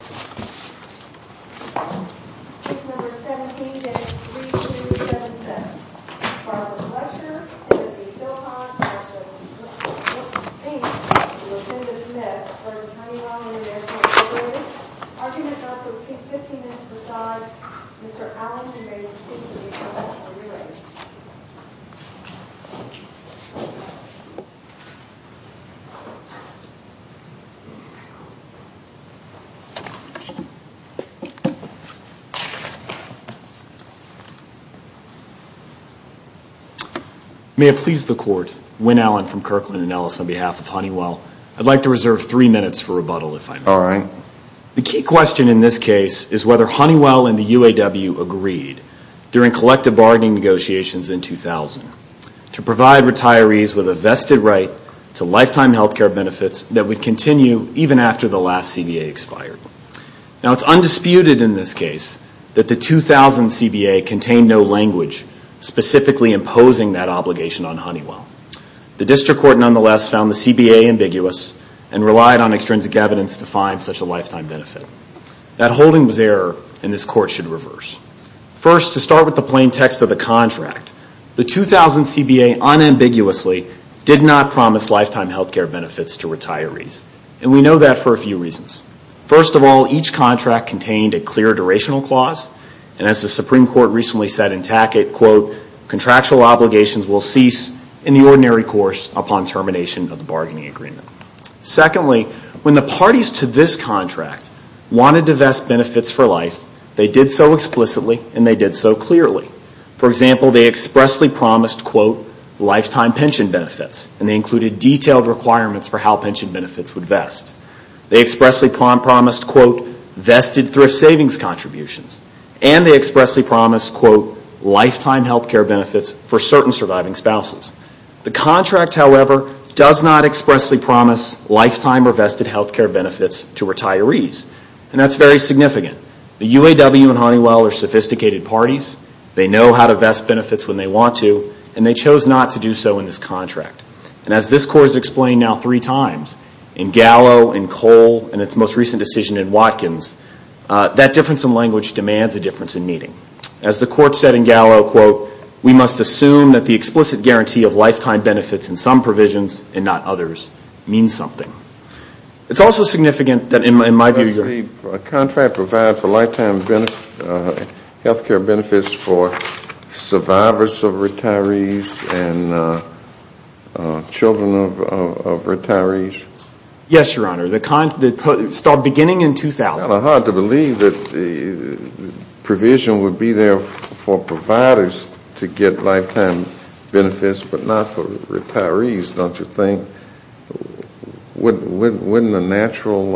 Case No. 17-3277. Barbara Fletcher, Timothy Philpott, Patrick Wilson-Pate, Lucinda Smith, v. Honeywell Intl Inc. Arguments also exceed 15 minutes. Besides, Mr. Allen, you may proceed to the information for rewriting. May it please the Court, Wynne Allen from Kirkland & Ellis on behalf of Honeywell. I'd like to reserve three minutes for rebuttal, if I may. All right. The key question in this case is whether Honeywell and the UAW agreed during collective bargaining negotiations in 2000 to provide retirees with a vested right to lifetime health care benefits that would continue even after the last CBA expired. Now, it's undisputed in this case that the 2000 CBA contained no language specifically imposing that obligation on Honeywell. The District Court, nonetheless, found the CBA ambiguous and relied on extrinsic evidence to find such a lifetime benefit. That holding was error, and this Court should reverse. First, to start with the plain text of the contract, the 2000 CBA unambiguously did not promise lifetime health care benefits to retirees, and we know that for a few reasons. First of all, each contract contained a clear durational clause, and as the Supreme Court recently said in Tackett, quote, contractual obligations will cease in the ordinary course upon termination of the bargaining agreement. Secondly, when the parties to this contract wanted to vest benefits for life, they did so explicitly and they did so clearly. For example, they expressly promised, quote, lifetime pension benefits, and they included detailed requirements for how pension benefits would vest. They expressly promised, quote, vested thrift savings contributions, and they expressly promised, quote, lifetime health care benefits for certain surviving spouses. The contract, however, does not expressly promise lifetime or vested health care benefits to retirees, and that's very significant. The UAW and Honeywell are sophisticated parties. They know how to vest benefits when they want to, and they chose not to do so in this contract. And as this Court has explained now three times, in Gallo, in Cole, and its most recent decision in Watkins, that difference in language demands a difference in meaning. As the Court said in Gallo, quote, we must assume that the explicit guarantee of lifetime benefits in some provisions and not others means something. It's also significant that in my view the contract provides for lifetime health care benefits for survivors of retirees and children of retirees. Yes, Your Honor. The contract started beginning in 2000. It's kind of hard to believe that the provision would be there for providers to get lifetime benefits but not for retirees, don't you think? Wouldn't the natural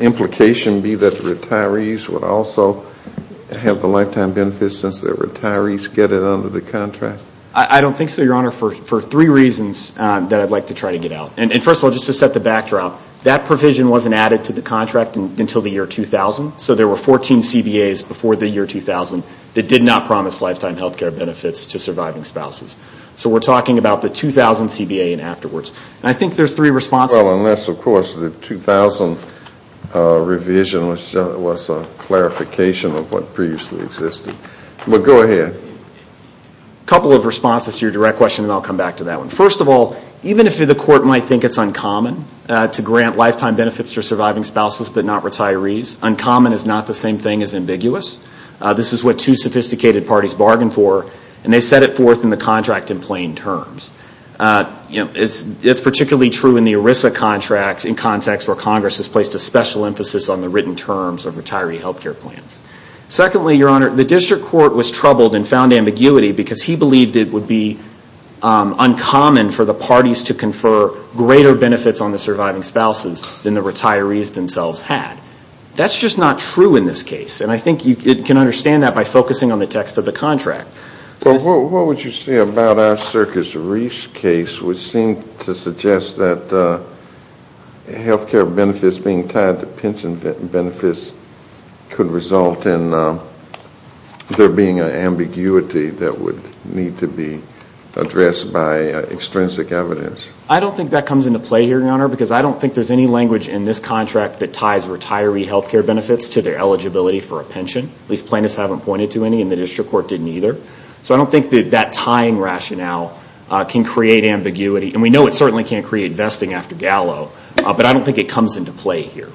implication be that the retirees would also have the lifetime benefits since the retirees get it under the contract? I don't think so, Your Honor, for three reasons that I'd like to try to get out. And first of all, just to set the backdrop, that provision wasn't added to the contract until the year 2000. So there were 14 CBAs before the year 2000 that did not promise lifetime health care benefits to surviving spouses. So we're talking about the 2000 CBA and afterwards. And I think there's three responses. Well, unless, of course, the 2000 revision was a clarification of what previously existed. But go ahead. A couple of responses to your direct question, and I'll come back to that one. First of all, even if the court might think it's uncommon to grant lifetime benefits to surviving spouses but not retirees, uncommon is not the same thing as ambiguous. This is what two sophisticated parties bargained for, and they set it forth in the contract in plain terms. It's particularly true in the ERISA contract in context where Congress has placed a special emphasis on the written terms of retiree health care plans. Secondly, Your Honor, the district court was troubled and found ambiguity because he believed it would be uncommon for the parties to confer greater benefits on the surviving spouses than the retirees themselves had. That's just not true in this case, and I think you can understand that by focusing on the text of the contract. What would you say about our Circus Reefs case, which seemed to suggest that health care benefits being tied to pension benefits could result in there being an ambiguity that would need to be addressed by extrinsic evidence? I don't think that comes into play here, Your Honor, because I don't think there's any language in this contract that ties retiree health care benefits to their eligibility for a pension. At least plaintiffs haven't pointed to any, and the district court didn't either. So I don't think that that tying rationale can create ambiguity, and we know it certainly can't create vesting after gallow, but I don't think it comes into play here.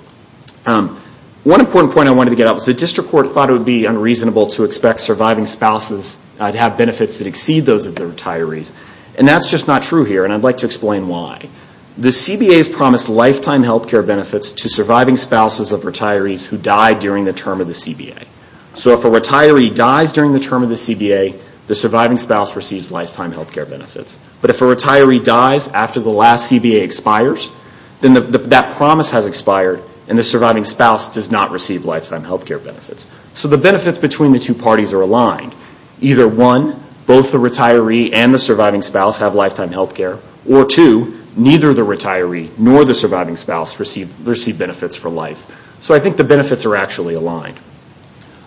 One important point I wanted to get at was the district court thought it would be unreasonable to expect surviving spouses to have benefits that exceed those of the retirees. And that's just not true here, and I'd like to explain why. The CBA has promised lifetime health care benefits to surviving spouses of retirees who died during the term of the CBA. So if a retiree dies during the term of the CBA, the surviving spouse receives lifetime health care benefits. But if a retiree dies after the last CBA expires, then that promise has expired, and the surviving spouse does not receive lifetime health care benefits. So the benefits between the two parties are aligned. Either one, both the retiree and the surviving spouse have lifetime health care, or two, neither the retiree nor the surviving spouse receive benefits for life. So I think the benefits are actually aligned.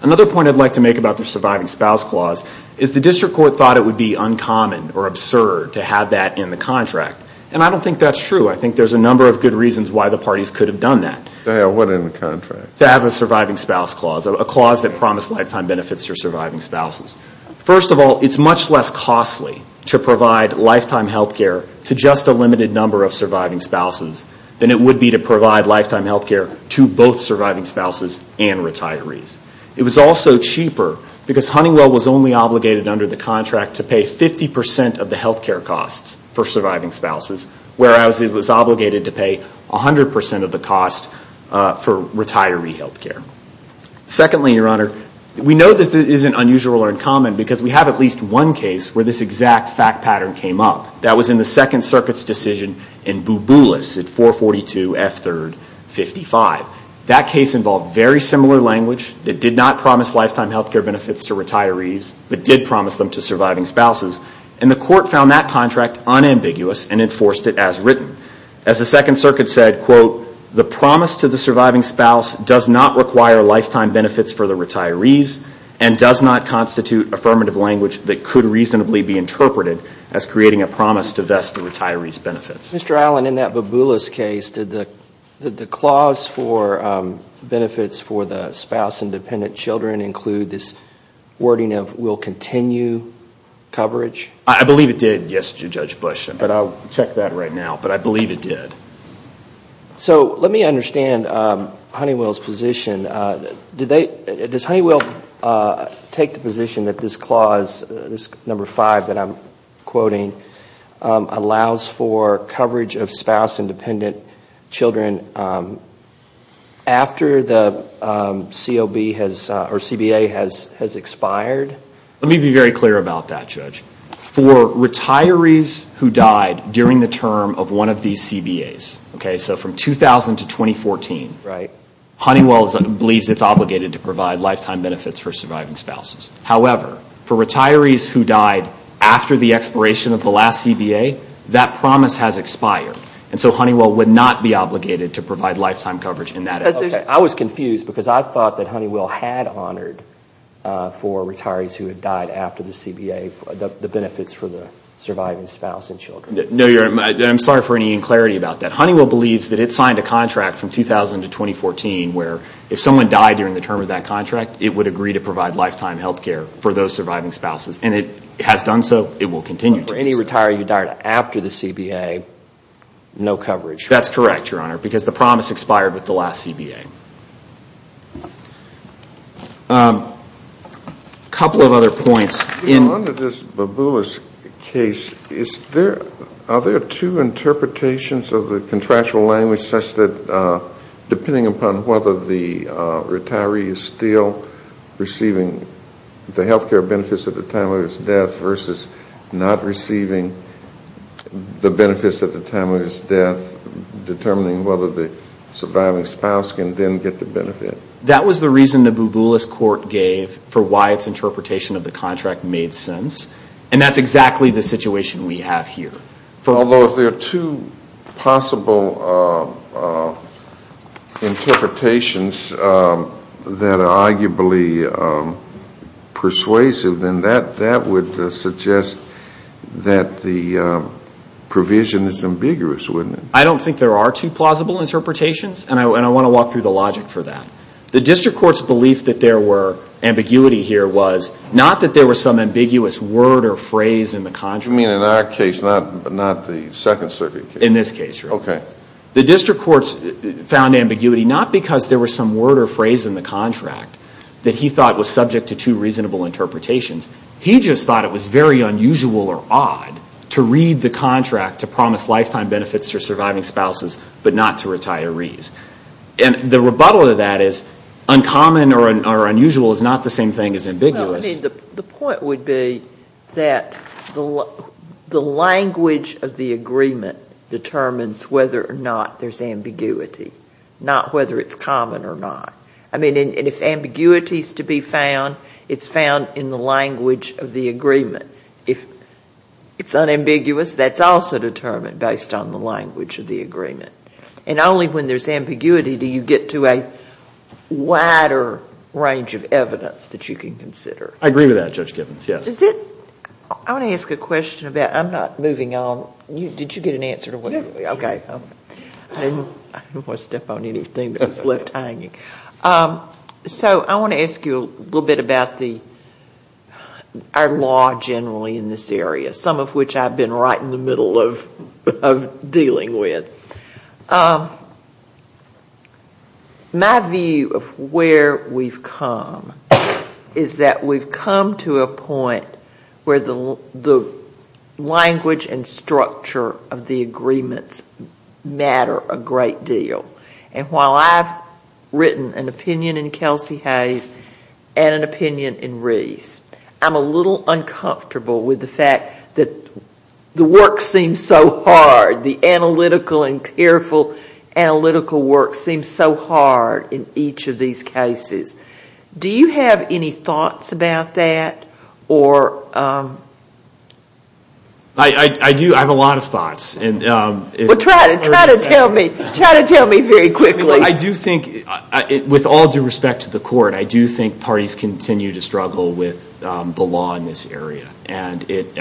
Another point I'd like to make about the surviving spouse clause is the district court thought it would be uncommon or absurd to have that in the contract. And I don't think that's true. I think there's a number of good reasons why the parties could have done that. To have a surviving spouse clause, a clause that promised lifetime benefits for surviving spouses. First of all, it's much less costly to provide lifetime health care to just a limited number of surviving spouses than it would be to provide lifetime health care to both surviving spouses and retirees. It was also cheaper because Huntingwell was only obligated under the contract to pay 50% of the health care costs for surviving spouses, whereas it was obligated to pay 100% of the cost for retiree health care. Secondly, Your Honor, we know this isn't unusual or uncommon because we have at least one case where this exact fact pattern came up. That was in the Second Circuit's decision in Bouboulas at 442 F3rd 55. That case involved very similar language. It did not promise lifetime health care benefits to retirees, but did promise them to surviving spouses. And the court found that contract unambiguous and enforced it as written. As the Second Circuit said, quote, the promise to the surviving spouse does not require lifetime benefits for the retirees and does not constitute affirmative language that could reasonably be interpreted as creating a promise to vest the retiree's benefits. Mr. Allen, in that Bouboulas case, did the clause for benefits for the spouse and dependent children include this wording of will continue coverage? I believe it did, yes, Judge Bush. But I'll check that right now. But I believe it did. So let me understand Honeywell's position. Does Honeywell take the position that this clause, this number five that I'm quoting, allows for coverage of spouse and dependent children after the CBA has expired? Let me be very clear about that, Judge. For retirees who died during the term of one of these CBAs, so from 2000 to 2014, Honeywell believes it's obligated to provide lifetime benefits for surviving spouses. However, for retirees who died after the expiration of the last CBA, that promise has expired. And so Honeywell would not be obligated to provide lifetime coverage in that instance. I was confused because I thought that Honeywell had honored for retirees who had died after the CBA the benefits for the surviving spouse and children. No, I'm sorry for any inclarity about that. Honeywell believes that it signed a contract from 2000 to 2014 where if someone died during the term of that contract, it would agree to provide lifetime health care for those surviving spouses. And it has done so. It will continue to do so. But for any retiree who died after the CBA, no coverage. That's correct, Your Honor, because the promise expired with the last CBA. A couple of other points. Under this Babula's case, are there two interpretations of the contractual language such that depending upon whether the retiree is still receiving the health care benefits at the time of his death versus not receiving the benefits at the time of his death, determining whether the surviving spouse can then get the benefit? That was the reason the Babula's court gave for why its interpretation of the contract made sense. And that's exactly the situation we have here. Although if there are two possible interpretations that are arguably persuasive, then that would suggest that the provision is ambiguous, wouldn't it? I don't think there are two plausible interpretations, and I want to walk through the logic for that. The district court's belief that there were ambiguity here was not that there was some ambiguous word or phrase in the contract. You mean in our case, not the Second Circuit case? In this case, Your Honor. Okay. The district court found ambiguity not because there was some word or phrase in the contract that he thought was subject to two reasonable interpretations. He just thought it was very unusual or odd to read the contract to promise lifetime benefits to surviving spouses but not to retirees. And the rebuttal to that is uncommon or unusual is not the same thing as ambiguous. Well, I mean, the point would be that the language of the agreement determines whether or not there's ambiguity, not whether it's common or not. I mean, and if ambiguity is to be found, it's found in the language of the agreement. If it's unambiguous, that's also determined based on the language of the agreement. And only when there's ambiguity do you get to a wider range of evidence that you can consider. I agree with that, Judge Gibbons, yes. I want to ask a question about, I'm not moving on. Did you get an answer to what? Okay. I don't want to step on anything that's left hanging. So I want to ask you a little bit about our law generally in this area, some of which I've been right in the middle of dealing with. My view of where we've come is that we've come to a point where the language and structure of the agreements matter a great deal. And while I've written an opinion in Kelsey Hayes and an opinion in Reese, I'm a little uncomfortable with the fact that the work seems so hard, the analytical and careful analytical work seems so hard in each of these cases. Do you have any thoughts about that? I do. I have a lot of thoughts. Well, try to tell me. Try to tell me very quickly. I do think, with all due respect to the court, I do think parties continue to struggle with the law in this area. And it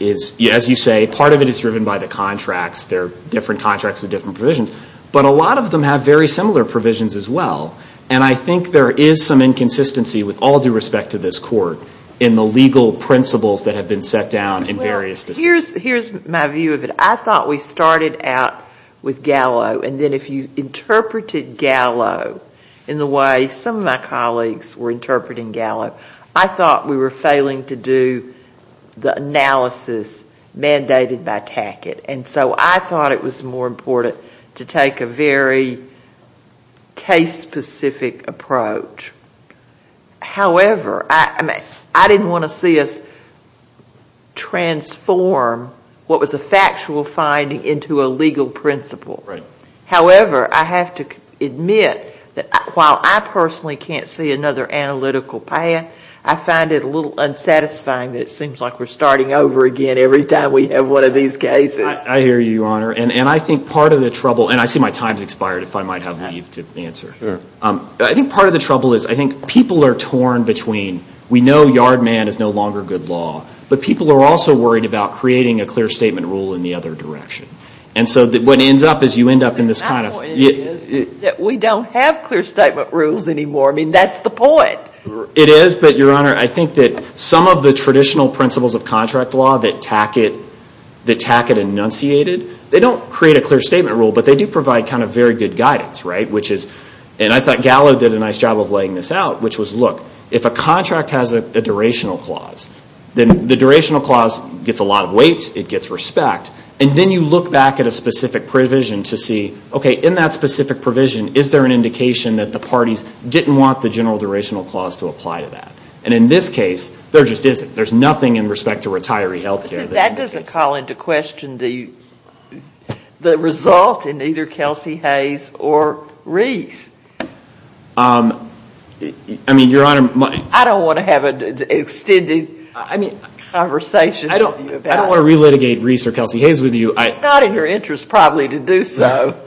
is, as you say, part of it is driven by the contracts. There are different contracts with different provisions. But a lot of them have very similar provisions as well. And I think there is some inconsistency, with all due respect to this court, in the legal principles that have been set down in various decisions. Here's my view of it. I thought we started out with Gallo. And then if you interpreted Gallo in the way some of my colleagues were interpreting Gallo, I thought we were failing to do the analysis mandated by Tackett. And so I thought it was more important to take a very case-specific approach. However, I didn't want to see us transform what was a factual finding into a legal principle. However, I have to admit that while I personally can't see another analytical path, I find it a little unsatisfying that it seems like we're starting over again every time we have one of these cases. I hear you, Your Honor. And I think part of the trouble, and I see my time has expired, if I might have leave to answer. I think part of the trouble is I think people are torn between, we know yard man is no longer good law, but people are also worried about creating a clear statement rule in the other direction. And so what ends up is you end up in this kind of... My point is that we don't have clear statement rules anymore. I mean, that's the point. It is, but, Your Honor, I think that some of the traditional principles of contract law that Tackett enunciated, they don't create a clear statement rule, but they do provide kind of very good guidance, right? Which is, and I thought Gallo did a nice job of laying this out, which was, look, if a contract has a durational clause, then the durational clause gets a lot of weight, it gets respect, and then you look back at a specific provision to see, okay, in that specific provision, is there an indication that the parties didn't want the general durational clause to apply to that? And in this case, there just isn't. There's nothing in respect to retiree health care. I think that doesn't call into question the result in either Kelsey Hayes or Reese. I mean, Your Honor, my... I don't want to have an extended conversation with you about... I don't want to relitigate Reese or Kelsey Hayes with you. It's not in your interest probably to do so.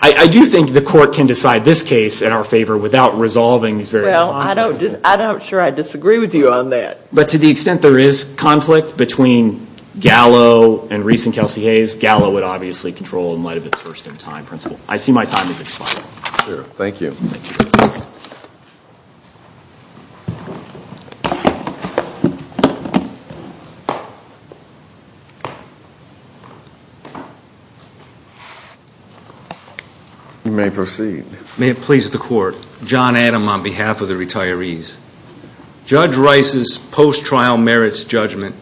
I do think the court can decide this case in our favor without resolving these various conflicts. Well, I'm not sure I disagree with you on that. But to the extent there is conflict between Gallo and Reese and Kelsey Hayes, Gallo would obviously control in light of its first-in-time principle. I see my time has expired. Sure. Thank you. You may proceed. May it please the Court. John Adam on behalf of the retirees. Judge Rice's post-trial merits judgment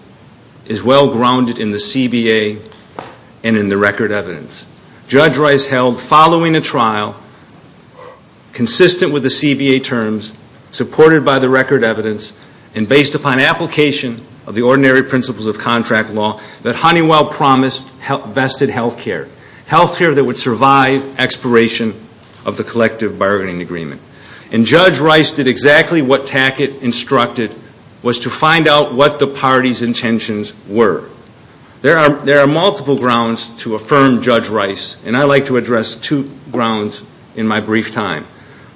is well-grounded in the CBA and in the record evidence. Judge Rice held, following a trial, consistent with the CBA terms, supported by the record evidence, and based upon application of the ordinary principles of contract law, that Honeywell promised vested health care, health care that would survive expiration of the collective bargaining agreement. And Judge Rice did exactly what Tackett instructed, was to find out what the party's intentions were. There are multiple grounds to affirm Judge Rice, and I'd like to address two grounds in my brief time.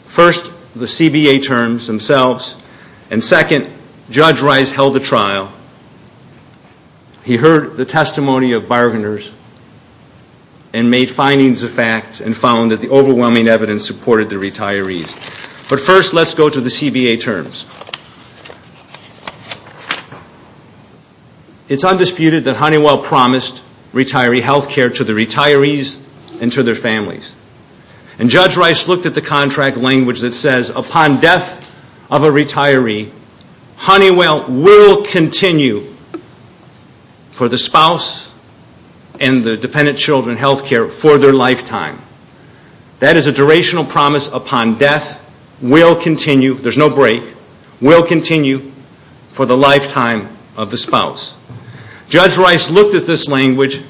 First, the CBA terms themselves, and second, Judge Rice held a trial. He heard the testimony of bargainers and made findings of facts and found that the overwhelming evidence supported the retirees. But first, let's go to the CBA terms. It's undisputed that Honeywell promised retiree health care to the retirees and to their families. And Judge Rice looked at the contract language that says, upon death of a retiree, Honeywell will continue for the spouse and the dependent children health care for their lifetime. That is a durational promise upon death, will continue, there's no break, will continue for the lifetime of the spouse. Judge Rice looked at this language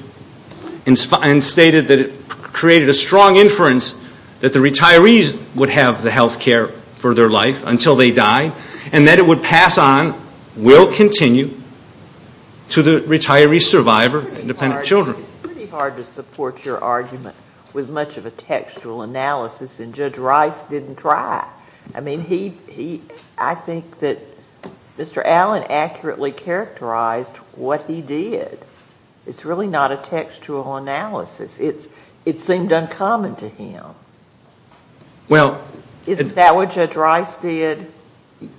and stated that it created a strong inference that the retirees would have the health care for their life until they died, and that it would pass on, will continue, to the retiree survivor and dependent children. It's pretty hard to support your argument with much of a textual analysis, and Judge Rice didn't try. I mean, I think that Mr. Allen accurately characterized what he did. It's really not a textual analysis. It seemed uncommon to him. Isn't that what Judge Rice did?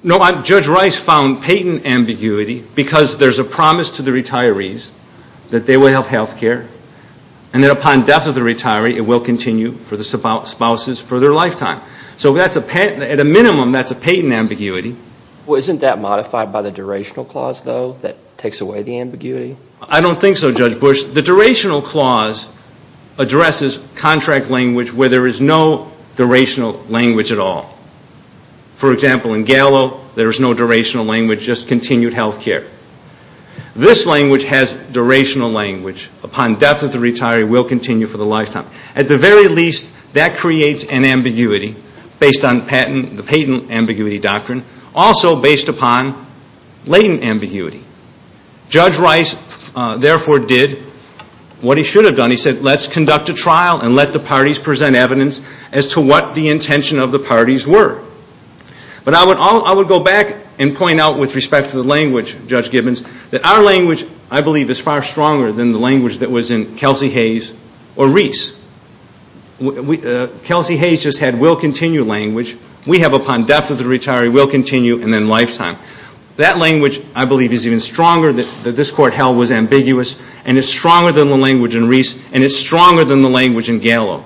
No, Judge Rice found patent ambiguity because there's a promise to the retirees that they will have health care, and that upon death of the retiree, it will continue for the spouses for their lifetime. So at a minimum, that's a patent ambiguity. Well, isn't that modified by the durational clause, though, that takes away the ambiguity? I don't think so, Judge Bush. The durational clause addresses contract language where there is no durational language at all. For example, in Gallo, there is no durational language, just continued health care. This language has durational language. Upon death of the retiree, it will continue for the lifetime. At the very least, that creates an ambiguity based on patent, the patent ambiguity doctrine, also based upon latent ambiguity. Judge Rice, therefore, did what he should have done. He said, let's conduct a trial and let the parties present evidence as to what the intention of the parties were. But I would go back and point out with respect to the language, Judge Gibbons, that our language, I believe, is far stronger than the language that was in Kelsey Hayes or Reese. Kelsey Hayes just had will continue language. We have upon death of the retiree, will continue, and then lifetime. That language, I believe, is even stronger that this court held was ambiguous, and it's stronger than the language in Reese, and it's stronger than the language in Gallo.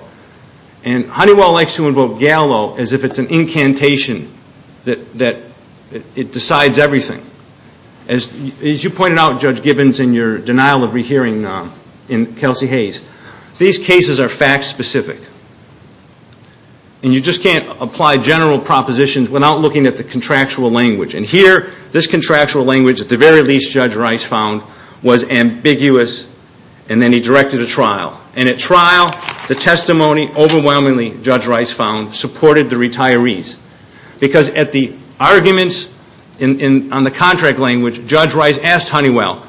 And Honeywell likes to invoke Gallo as if it's an incantation that it decides everything. As you pointed out, Judge Gibbons, in your denial of rehearing in Kelsey Hayes, these cases are fact specific. And you just can't apply general propositions without looking at the contractual language. And here, this contractual language, at the very least, Judge Rice found was ambiguous, and then he directed a trial. And at trial, the testimony overwhelmingly, Judge Rice found, supported the retirees. Because at the arguments on the contract language, Judge Rice asked Honeywell.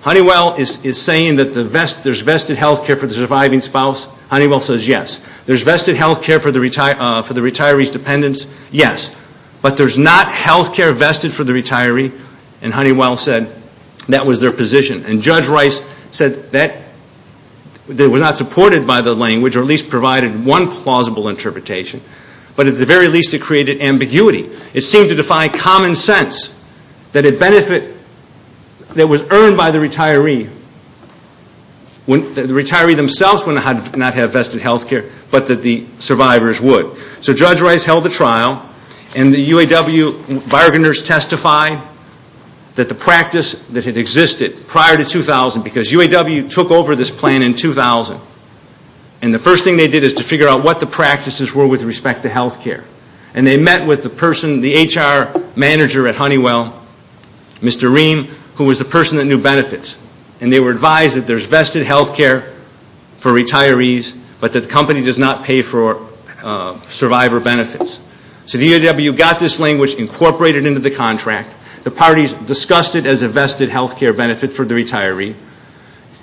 Honeywell is saying that there's vested health care for the surviving spouse. Honeywell says yes. There's vested health care for the retiree's dependents. Yes. But there's not health care vested for the retiree. And Honeywell said that was their position. And Judge Rice said that was not supported by the language or at least provided one plausible interpretation. But at the very least, it created ambiguity. It seemed to defy common sense that it benefit that was earned by the retiree. The retiree themselves would not have vested health care, but that the survivors would. So Judge Rice held a trial, and the UAW bargainers testified that the practice that had existed prior to 2000, because UAW took over this plan in 2000. And the first thing they did is to figure out what the practices were with respect to health care. And they met with the HR manager at Honeywell, Mr. Ream, who was the person that knew benefits. And they were advised that there's vested health care for retirees, but that the company does not pay for survivor benefits. So the UAW got this language, incorporated it into the contract. The parties discussed it as a vested health care benefit for the retiree.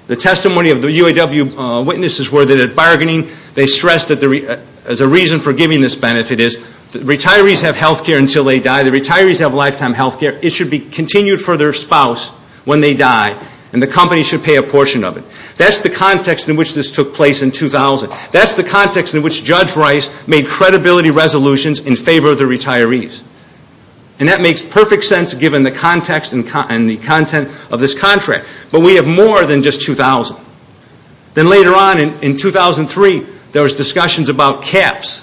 The testimony of the UAW witnesses were that at bargaining, they stressed that the reason for giving this benefit is, retirees have health care until they die. The retirees have lifetime health care. It should be continued for their spouse when they die, and the company should pay a portion of it. That's the context in which this took place in 2000. That's the context in which Judge Rice made credibility resolutions in favor of the retirees. And that makes perfect sense given the context and the content of this contract. But we have more than just 2000. Then later on in 2003, there was discussions about caps.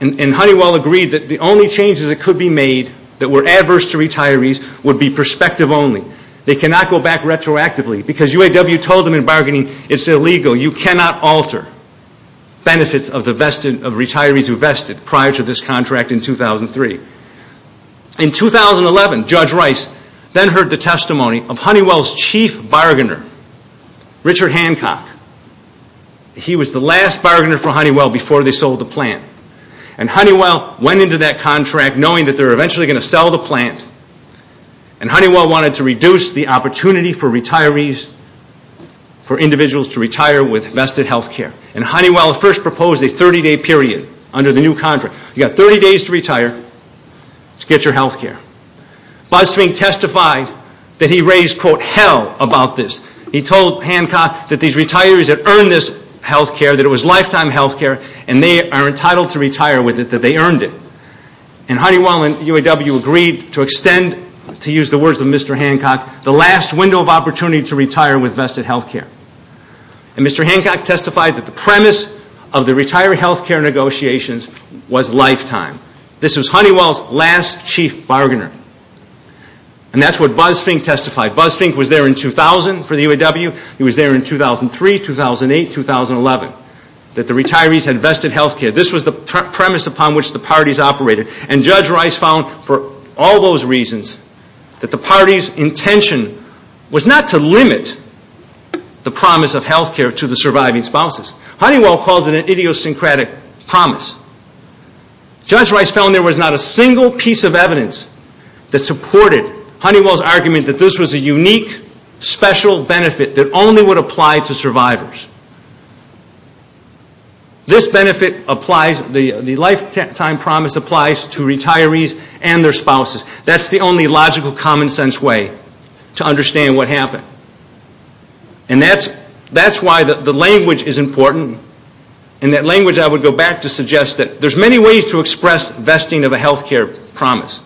And Honeywell agreed that the only changes that could be made that were adverse to retirees would be perspective only. They cannot go back retroactively because UAW told them in bargaining, it's illegal. You cannot alter benefits of retirees who vested prior to this contract in 2003. In 2011, Judge Rice then heard the testimony of Honeywell's chief bargainer, Richard Hancock. He was the last bargainer for Honeywell before they sold the plant. And Honeywell went into that contract knowing that they were eventually going to sell the plant. And Honeywell wanted to reduce the opportunity for retirees, for individuals to retire with vested health care. And Honeywell first proposed a 30-day period under the new contract. You've got 30 days to retire to get your health care. BuzzFink testified that he raised, quote, hell about this. He told Hancock that these retirees had earned this health care, that it was lifetime health care, and they are entitled to retire with it, that they earned it. And Honeywell and UAW agreed to extend, to use the words of Mr. Hancock, the last window of opportunity to retire with vested health care. And Mr. Hancock testified that the premise of the retiree health care negotiations was lifetime. This was Honeywell's last chief bargainer. And that's what BuzzFink testified. BuzzFink was there in 2000 for the UAW. He was there in 2003, 2008, 2011, that the retirees had vested health care. This was the premise upon which the parties operated. And Judge Rice found for all those reasons that the party's intention was not to limit the promise of health care to the surviving spouses. Honeywell calls it an idiosyncratic promise. Judge Rice found there was not a single piece of evidence that supported Honeywell's argument that this was a unique, special benefit that only would apply to survivors. This benefit applies, the lifetime promise applies to retirees and their spouses. That's the only logical, common sense way to understand what happened. And that's why the language is important. In that language, I would go back to suggest that there's many ways to express vesting of a health care promise.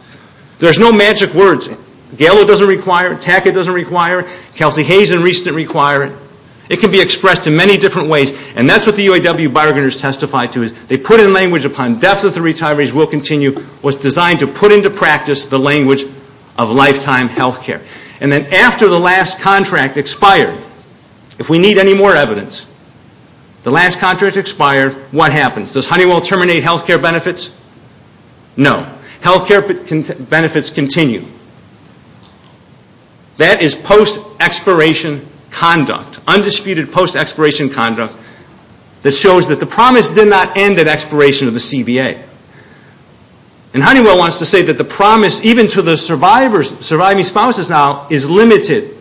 There's no magic words. Gallo doesn't require it. Tackett doesn't require it. Kelsey Hayes and Reist don't require it. It can be expressed in many different ways. And that's what the UAW bargainers testified to is they put in language upon death that the retirees will continue was designed to put into practice the language of lifetime health care. And then after the last contract expired, if we need any more evidence, the last contract expired, what happens? Does Honeywell terminate health care benefits? No. Health care benefits continue. That is post-expiration conduct, undisputed post-expiration conduct, that shows that the promise did not end at expiration of the CBA. And Honeywell wants to say that the promise, even to the surviving spouses now, is limited.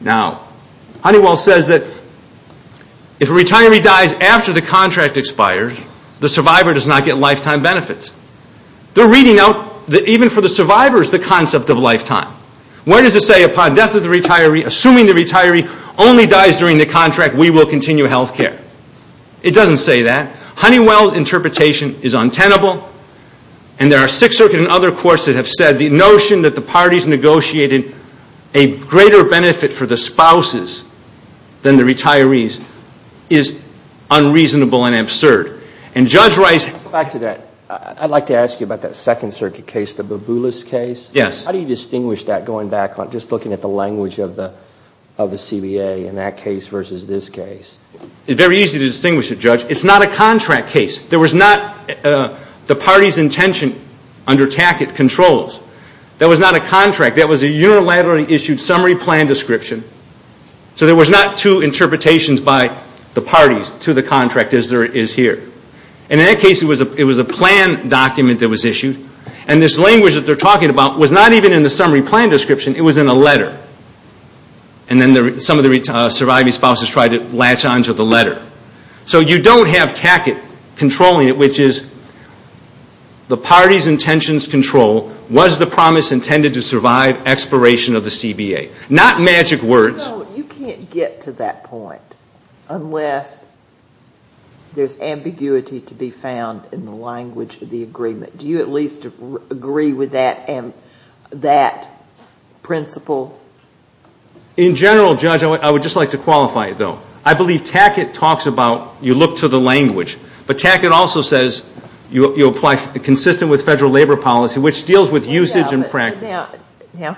Now, Honeywell says that if a retiree dies after the contract expires, the survivor does not get lifetime benefits. They're reading out, even for the survivors, the concept of lifetime. Where does it say upon death of the retiree, assuming the retiree only dies during the contract, we will continue health care? It doesn't say that. Honeywell's interpretation is untenable. And there are Sixth Circuit and other courts that have said the notion that the parties negotiated a greater benefit for the spouses than the retirees is unreasonable and absurd. And Judge Rice... Back to that. I'd like to ask you about that Second Circuit case, the Baboulas case. Yes. How do you distinguish that going back, just looking at the language of the CBA in that case versus this case? It's very easy to distinguish it, Judge. It's not a contract case. There was not the party's intention under Tackett controls. That was not a contract. That was a unilaterally issued summary plan description. So there was not two interpretations by the parties to the contract, as there is here. And in that case, it was a plan document that was issued. And this language that they're talking about was not even in the summary plan description. It was in a letter. And then some of the surviving spouses tried to latch onto the letter. So you don't have Tackett controlling it, which is the party's intentions control, was the promise intended to survive expiration of the CBA. Not magic words. So you can't get to that point unless there's ambiguity to be found in the language of the agreement. Do you at least agree with that and that principle? In general, Judge, I would just like to qualify it, though. I believe Tackett talks about you look to the language. But Tackett also says you apply consistent with federal labor policy, which deals with usage and practice. Now,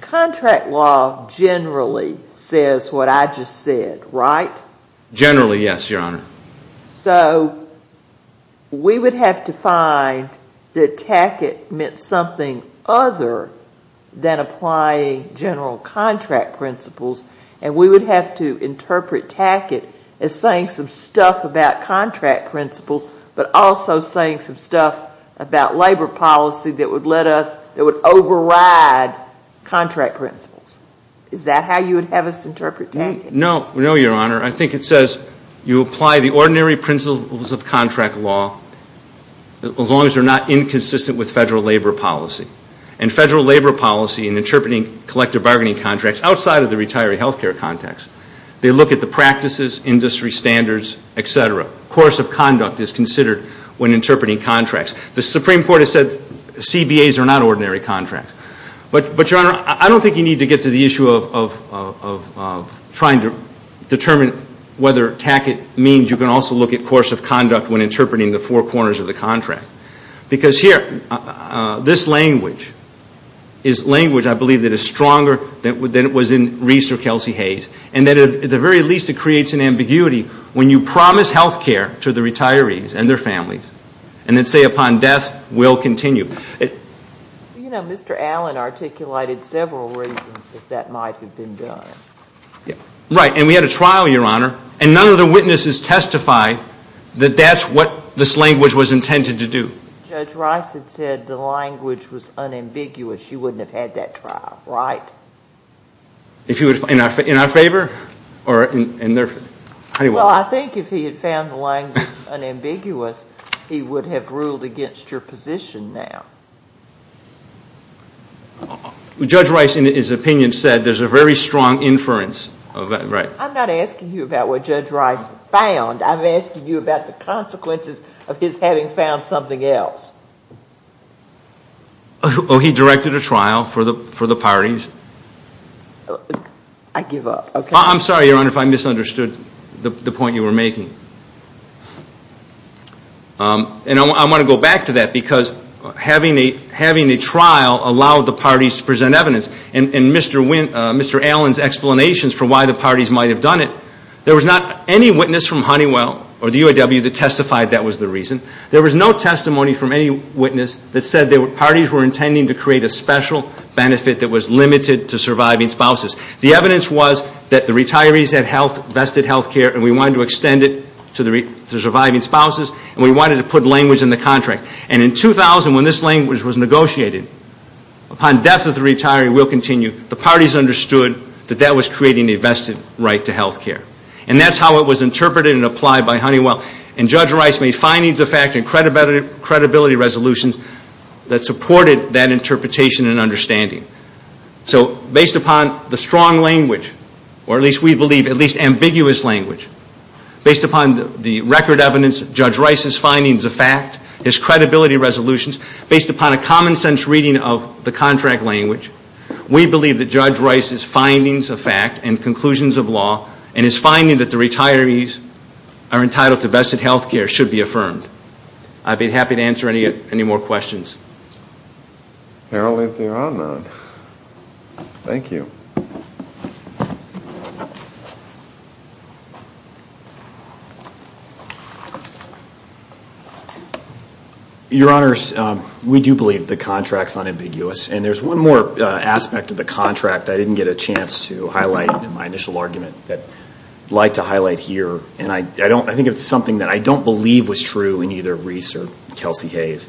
contract law generally says what I just said, right? Generally, yes, Your Honor. So we would have to find that Tackett meant something other than applying general contract principles, and we would have to interpret Tackett as saying some stuff about contract principles but also saying some stuff about labor policy that would override contract principles. Is that how you would have us interpret Tackett? No, Your Honor. I think it says you apply the ordinary principles of contract law as long as they're not inconsistent with federal labor policy. And federal labor policy in interpreting collective bargaining contracts outside of the retiree health care context, they look at the practices, industry standards, et cetera. Course of conduct is considered when interpreting contracts. The Supreme Court has said CBAs are not ordinary contracts. But, Your Honor, I don't think you need to get to the issue of trying to determine whether Tackett means you can also look at course of conduct when interpreting the four corners of the contract. Because here, this language is language I believe that is stronger than it was in Reese or Kelsey Hayes, and that at the very least it creates an ambiguity when you promise health care to the retirees and their families and then say upon death, we'll continue. You know, Mr. Allen articulated several reasons that that might have been done. Right. And we had a trial, Your Honor, and none of the witnesses testified that that's what this language was intended to do. Judge Rice had said the language was unambiguous. You wouldn't have had that trial, right? In our favor? Well, I think if he had found the language unambiguous, he would have ruled against your position now. Judge Rice, in his opinion, said there's a very strong inference. Right. I'm not asking you about what Judge Rice found. I'm asking you about the consequences of his having found something else. Oh, he directed a trial for the parties. I give up. I'm sorry, Your Honor, if I misunderstood the point you were making. And I want to go back to that because having a trial allowed the parties to present evidence. In Mr. Allen's explanations for why the parties might have done it, there was not any witness from Honeywell or the UAW that testified that was the reason. There was no testimony from any witness that said the parties were intending to create a special benefit that was limited to surviving spouses. The evidence was that the retirees had vested health care and we wanted to extend it to surviving spouses and we wanted to put language in the contract. And in 2000, when this language was negotiated, upon death of the retiree, we'll continue, the parties understood that that was creating a vested right to health care. And that's how it was interpreted and applied by Honeywell. And Judge Rice made findings of fact and credibility resolutions that supported that interpretation and understanding. So based upon the strong language, or at least we believe at least ambiguous language, based upon the record evidence, Judge Rice's findings of fact, his credibility resolutions, based upon a common sense reading of the contract language, we believe that Judge Rice's findings of fact and conclusions of law and his finding that the retirees are entitled to vested health care should be affirmed. I'd be happy to answer any more questions. Apparently, there are none. Thank you. Your Honors, we do believe the contract's unambiguous. And there's one more aspect of the contract I didn't get a chance to highlight in my initial argument that I'd like to highlight here. And I think it's something that I don't believe was true in either Rice or Kelsey Hayes.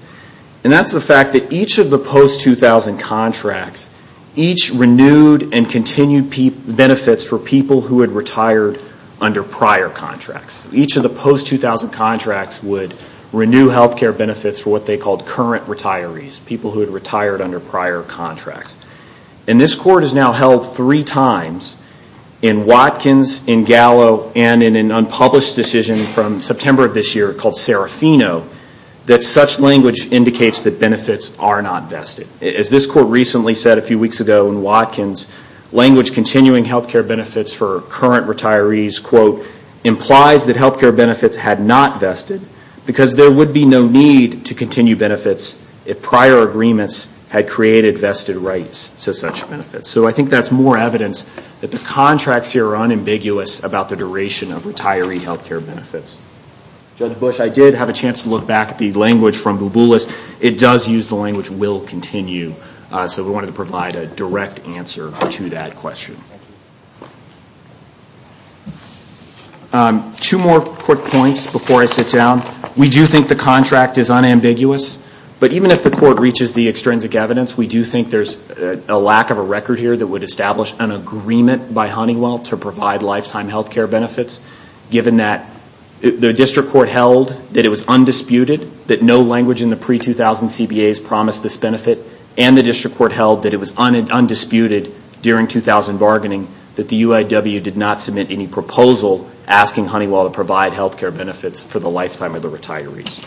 And that's the fact that each of the post-2000 contracts, each renewed and continued benefits for people who had retired under prior contracts. Each of the post-2000 contracts would renew health care benefits for what they called current retirees, people who had retired under prior contracts. And this Court has now held three times in Watkins, in Gallo, and in an unpublished decision from September of this year called Serafino, that such language indicates that benefits are not vested. As this Court recently said a few weeks ago in Watkins, language continuing health care benefits for current retirees, quote, implies that health care benefits had not vested because there would be no need to continue benefits if prior agreements had created vested rights to such benefits. So I think that's more evidence that the contracts here are unambiguous about the duration of retiree health care benefits. Judge Bush, I did have a chance to look back at the language from Bouboulis. It does use the language, will continue. So we wanted to provide a direct answer to that question. Two more quick points before I sit down. We do think the contract is unambiguous. But even if the Court reaches the extrinsic evidence, we do think there's a lack of a record here that would establish an agreement by Honeywell to provide lifetime health care benefits, given that the District Court held that it was undisputed that no language in the pre-2000 CBAs promised this benefit, and the District Court held that it was undisputed during 2000 bargaining that the UIW did not submit any proposal asking Honeywell to provide health care benefits for the lifetime of the retirees.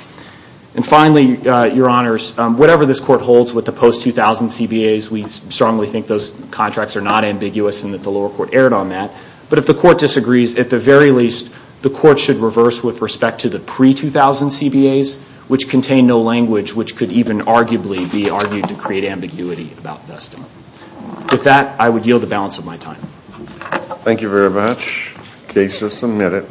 And finally, Your Honors, whatever this Court holds with the post-2000 CBAs, we strongly think those contracts are not ambiguous and that the lower court erred on that. But if the Court disagrees, at the very least, the Court should reverse with respect to the pre-2000 CBAs, which contain no language, which could even arguably be argued to create ambiguity about vesting. With that, I would yield the balance of my time. Thank you very much. Case is submitted.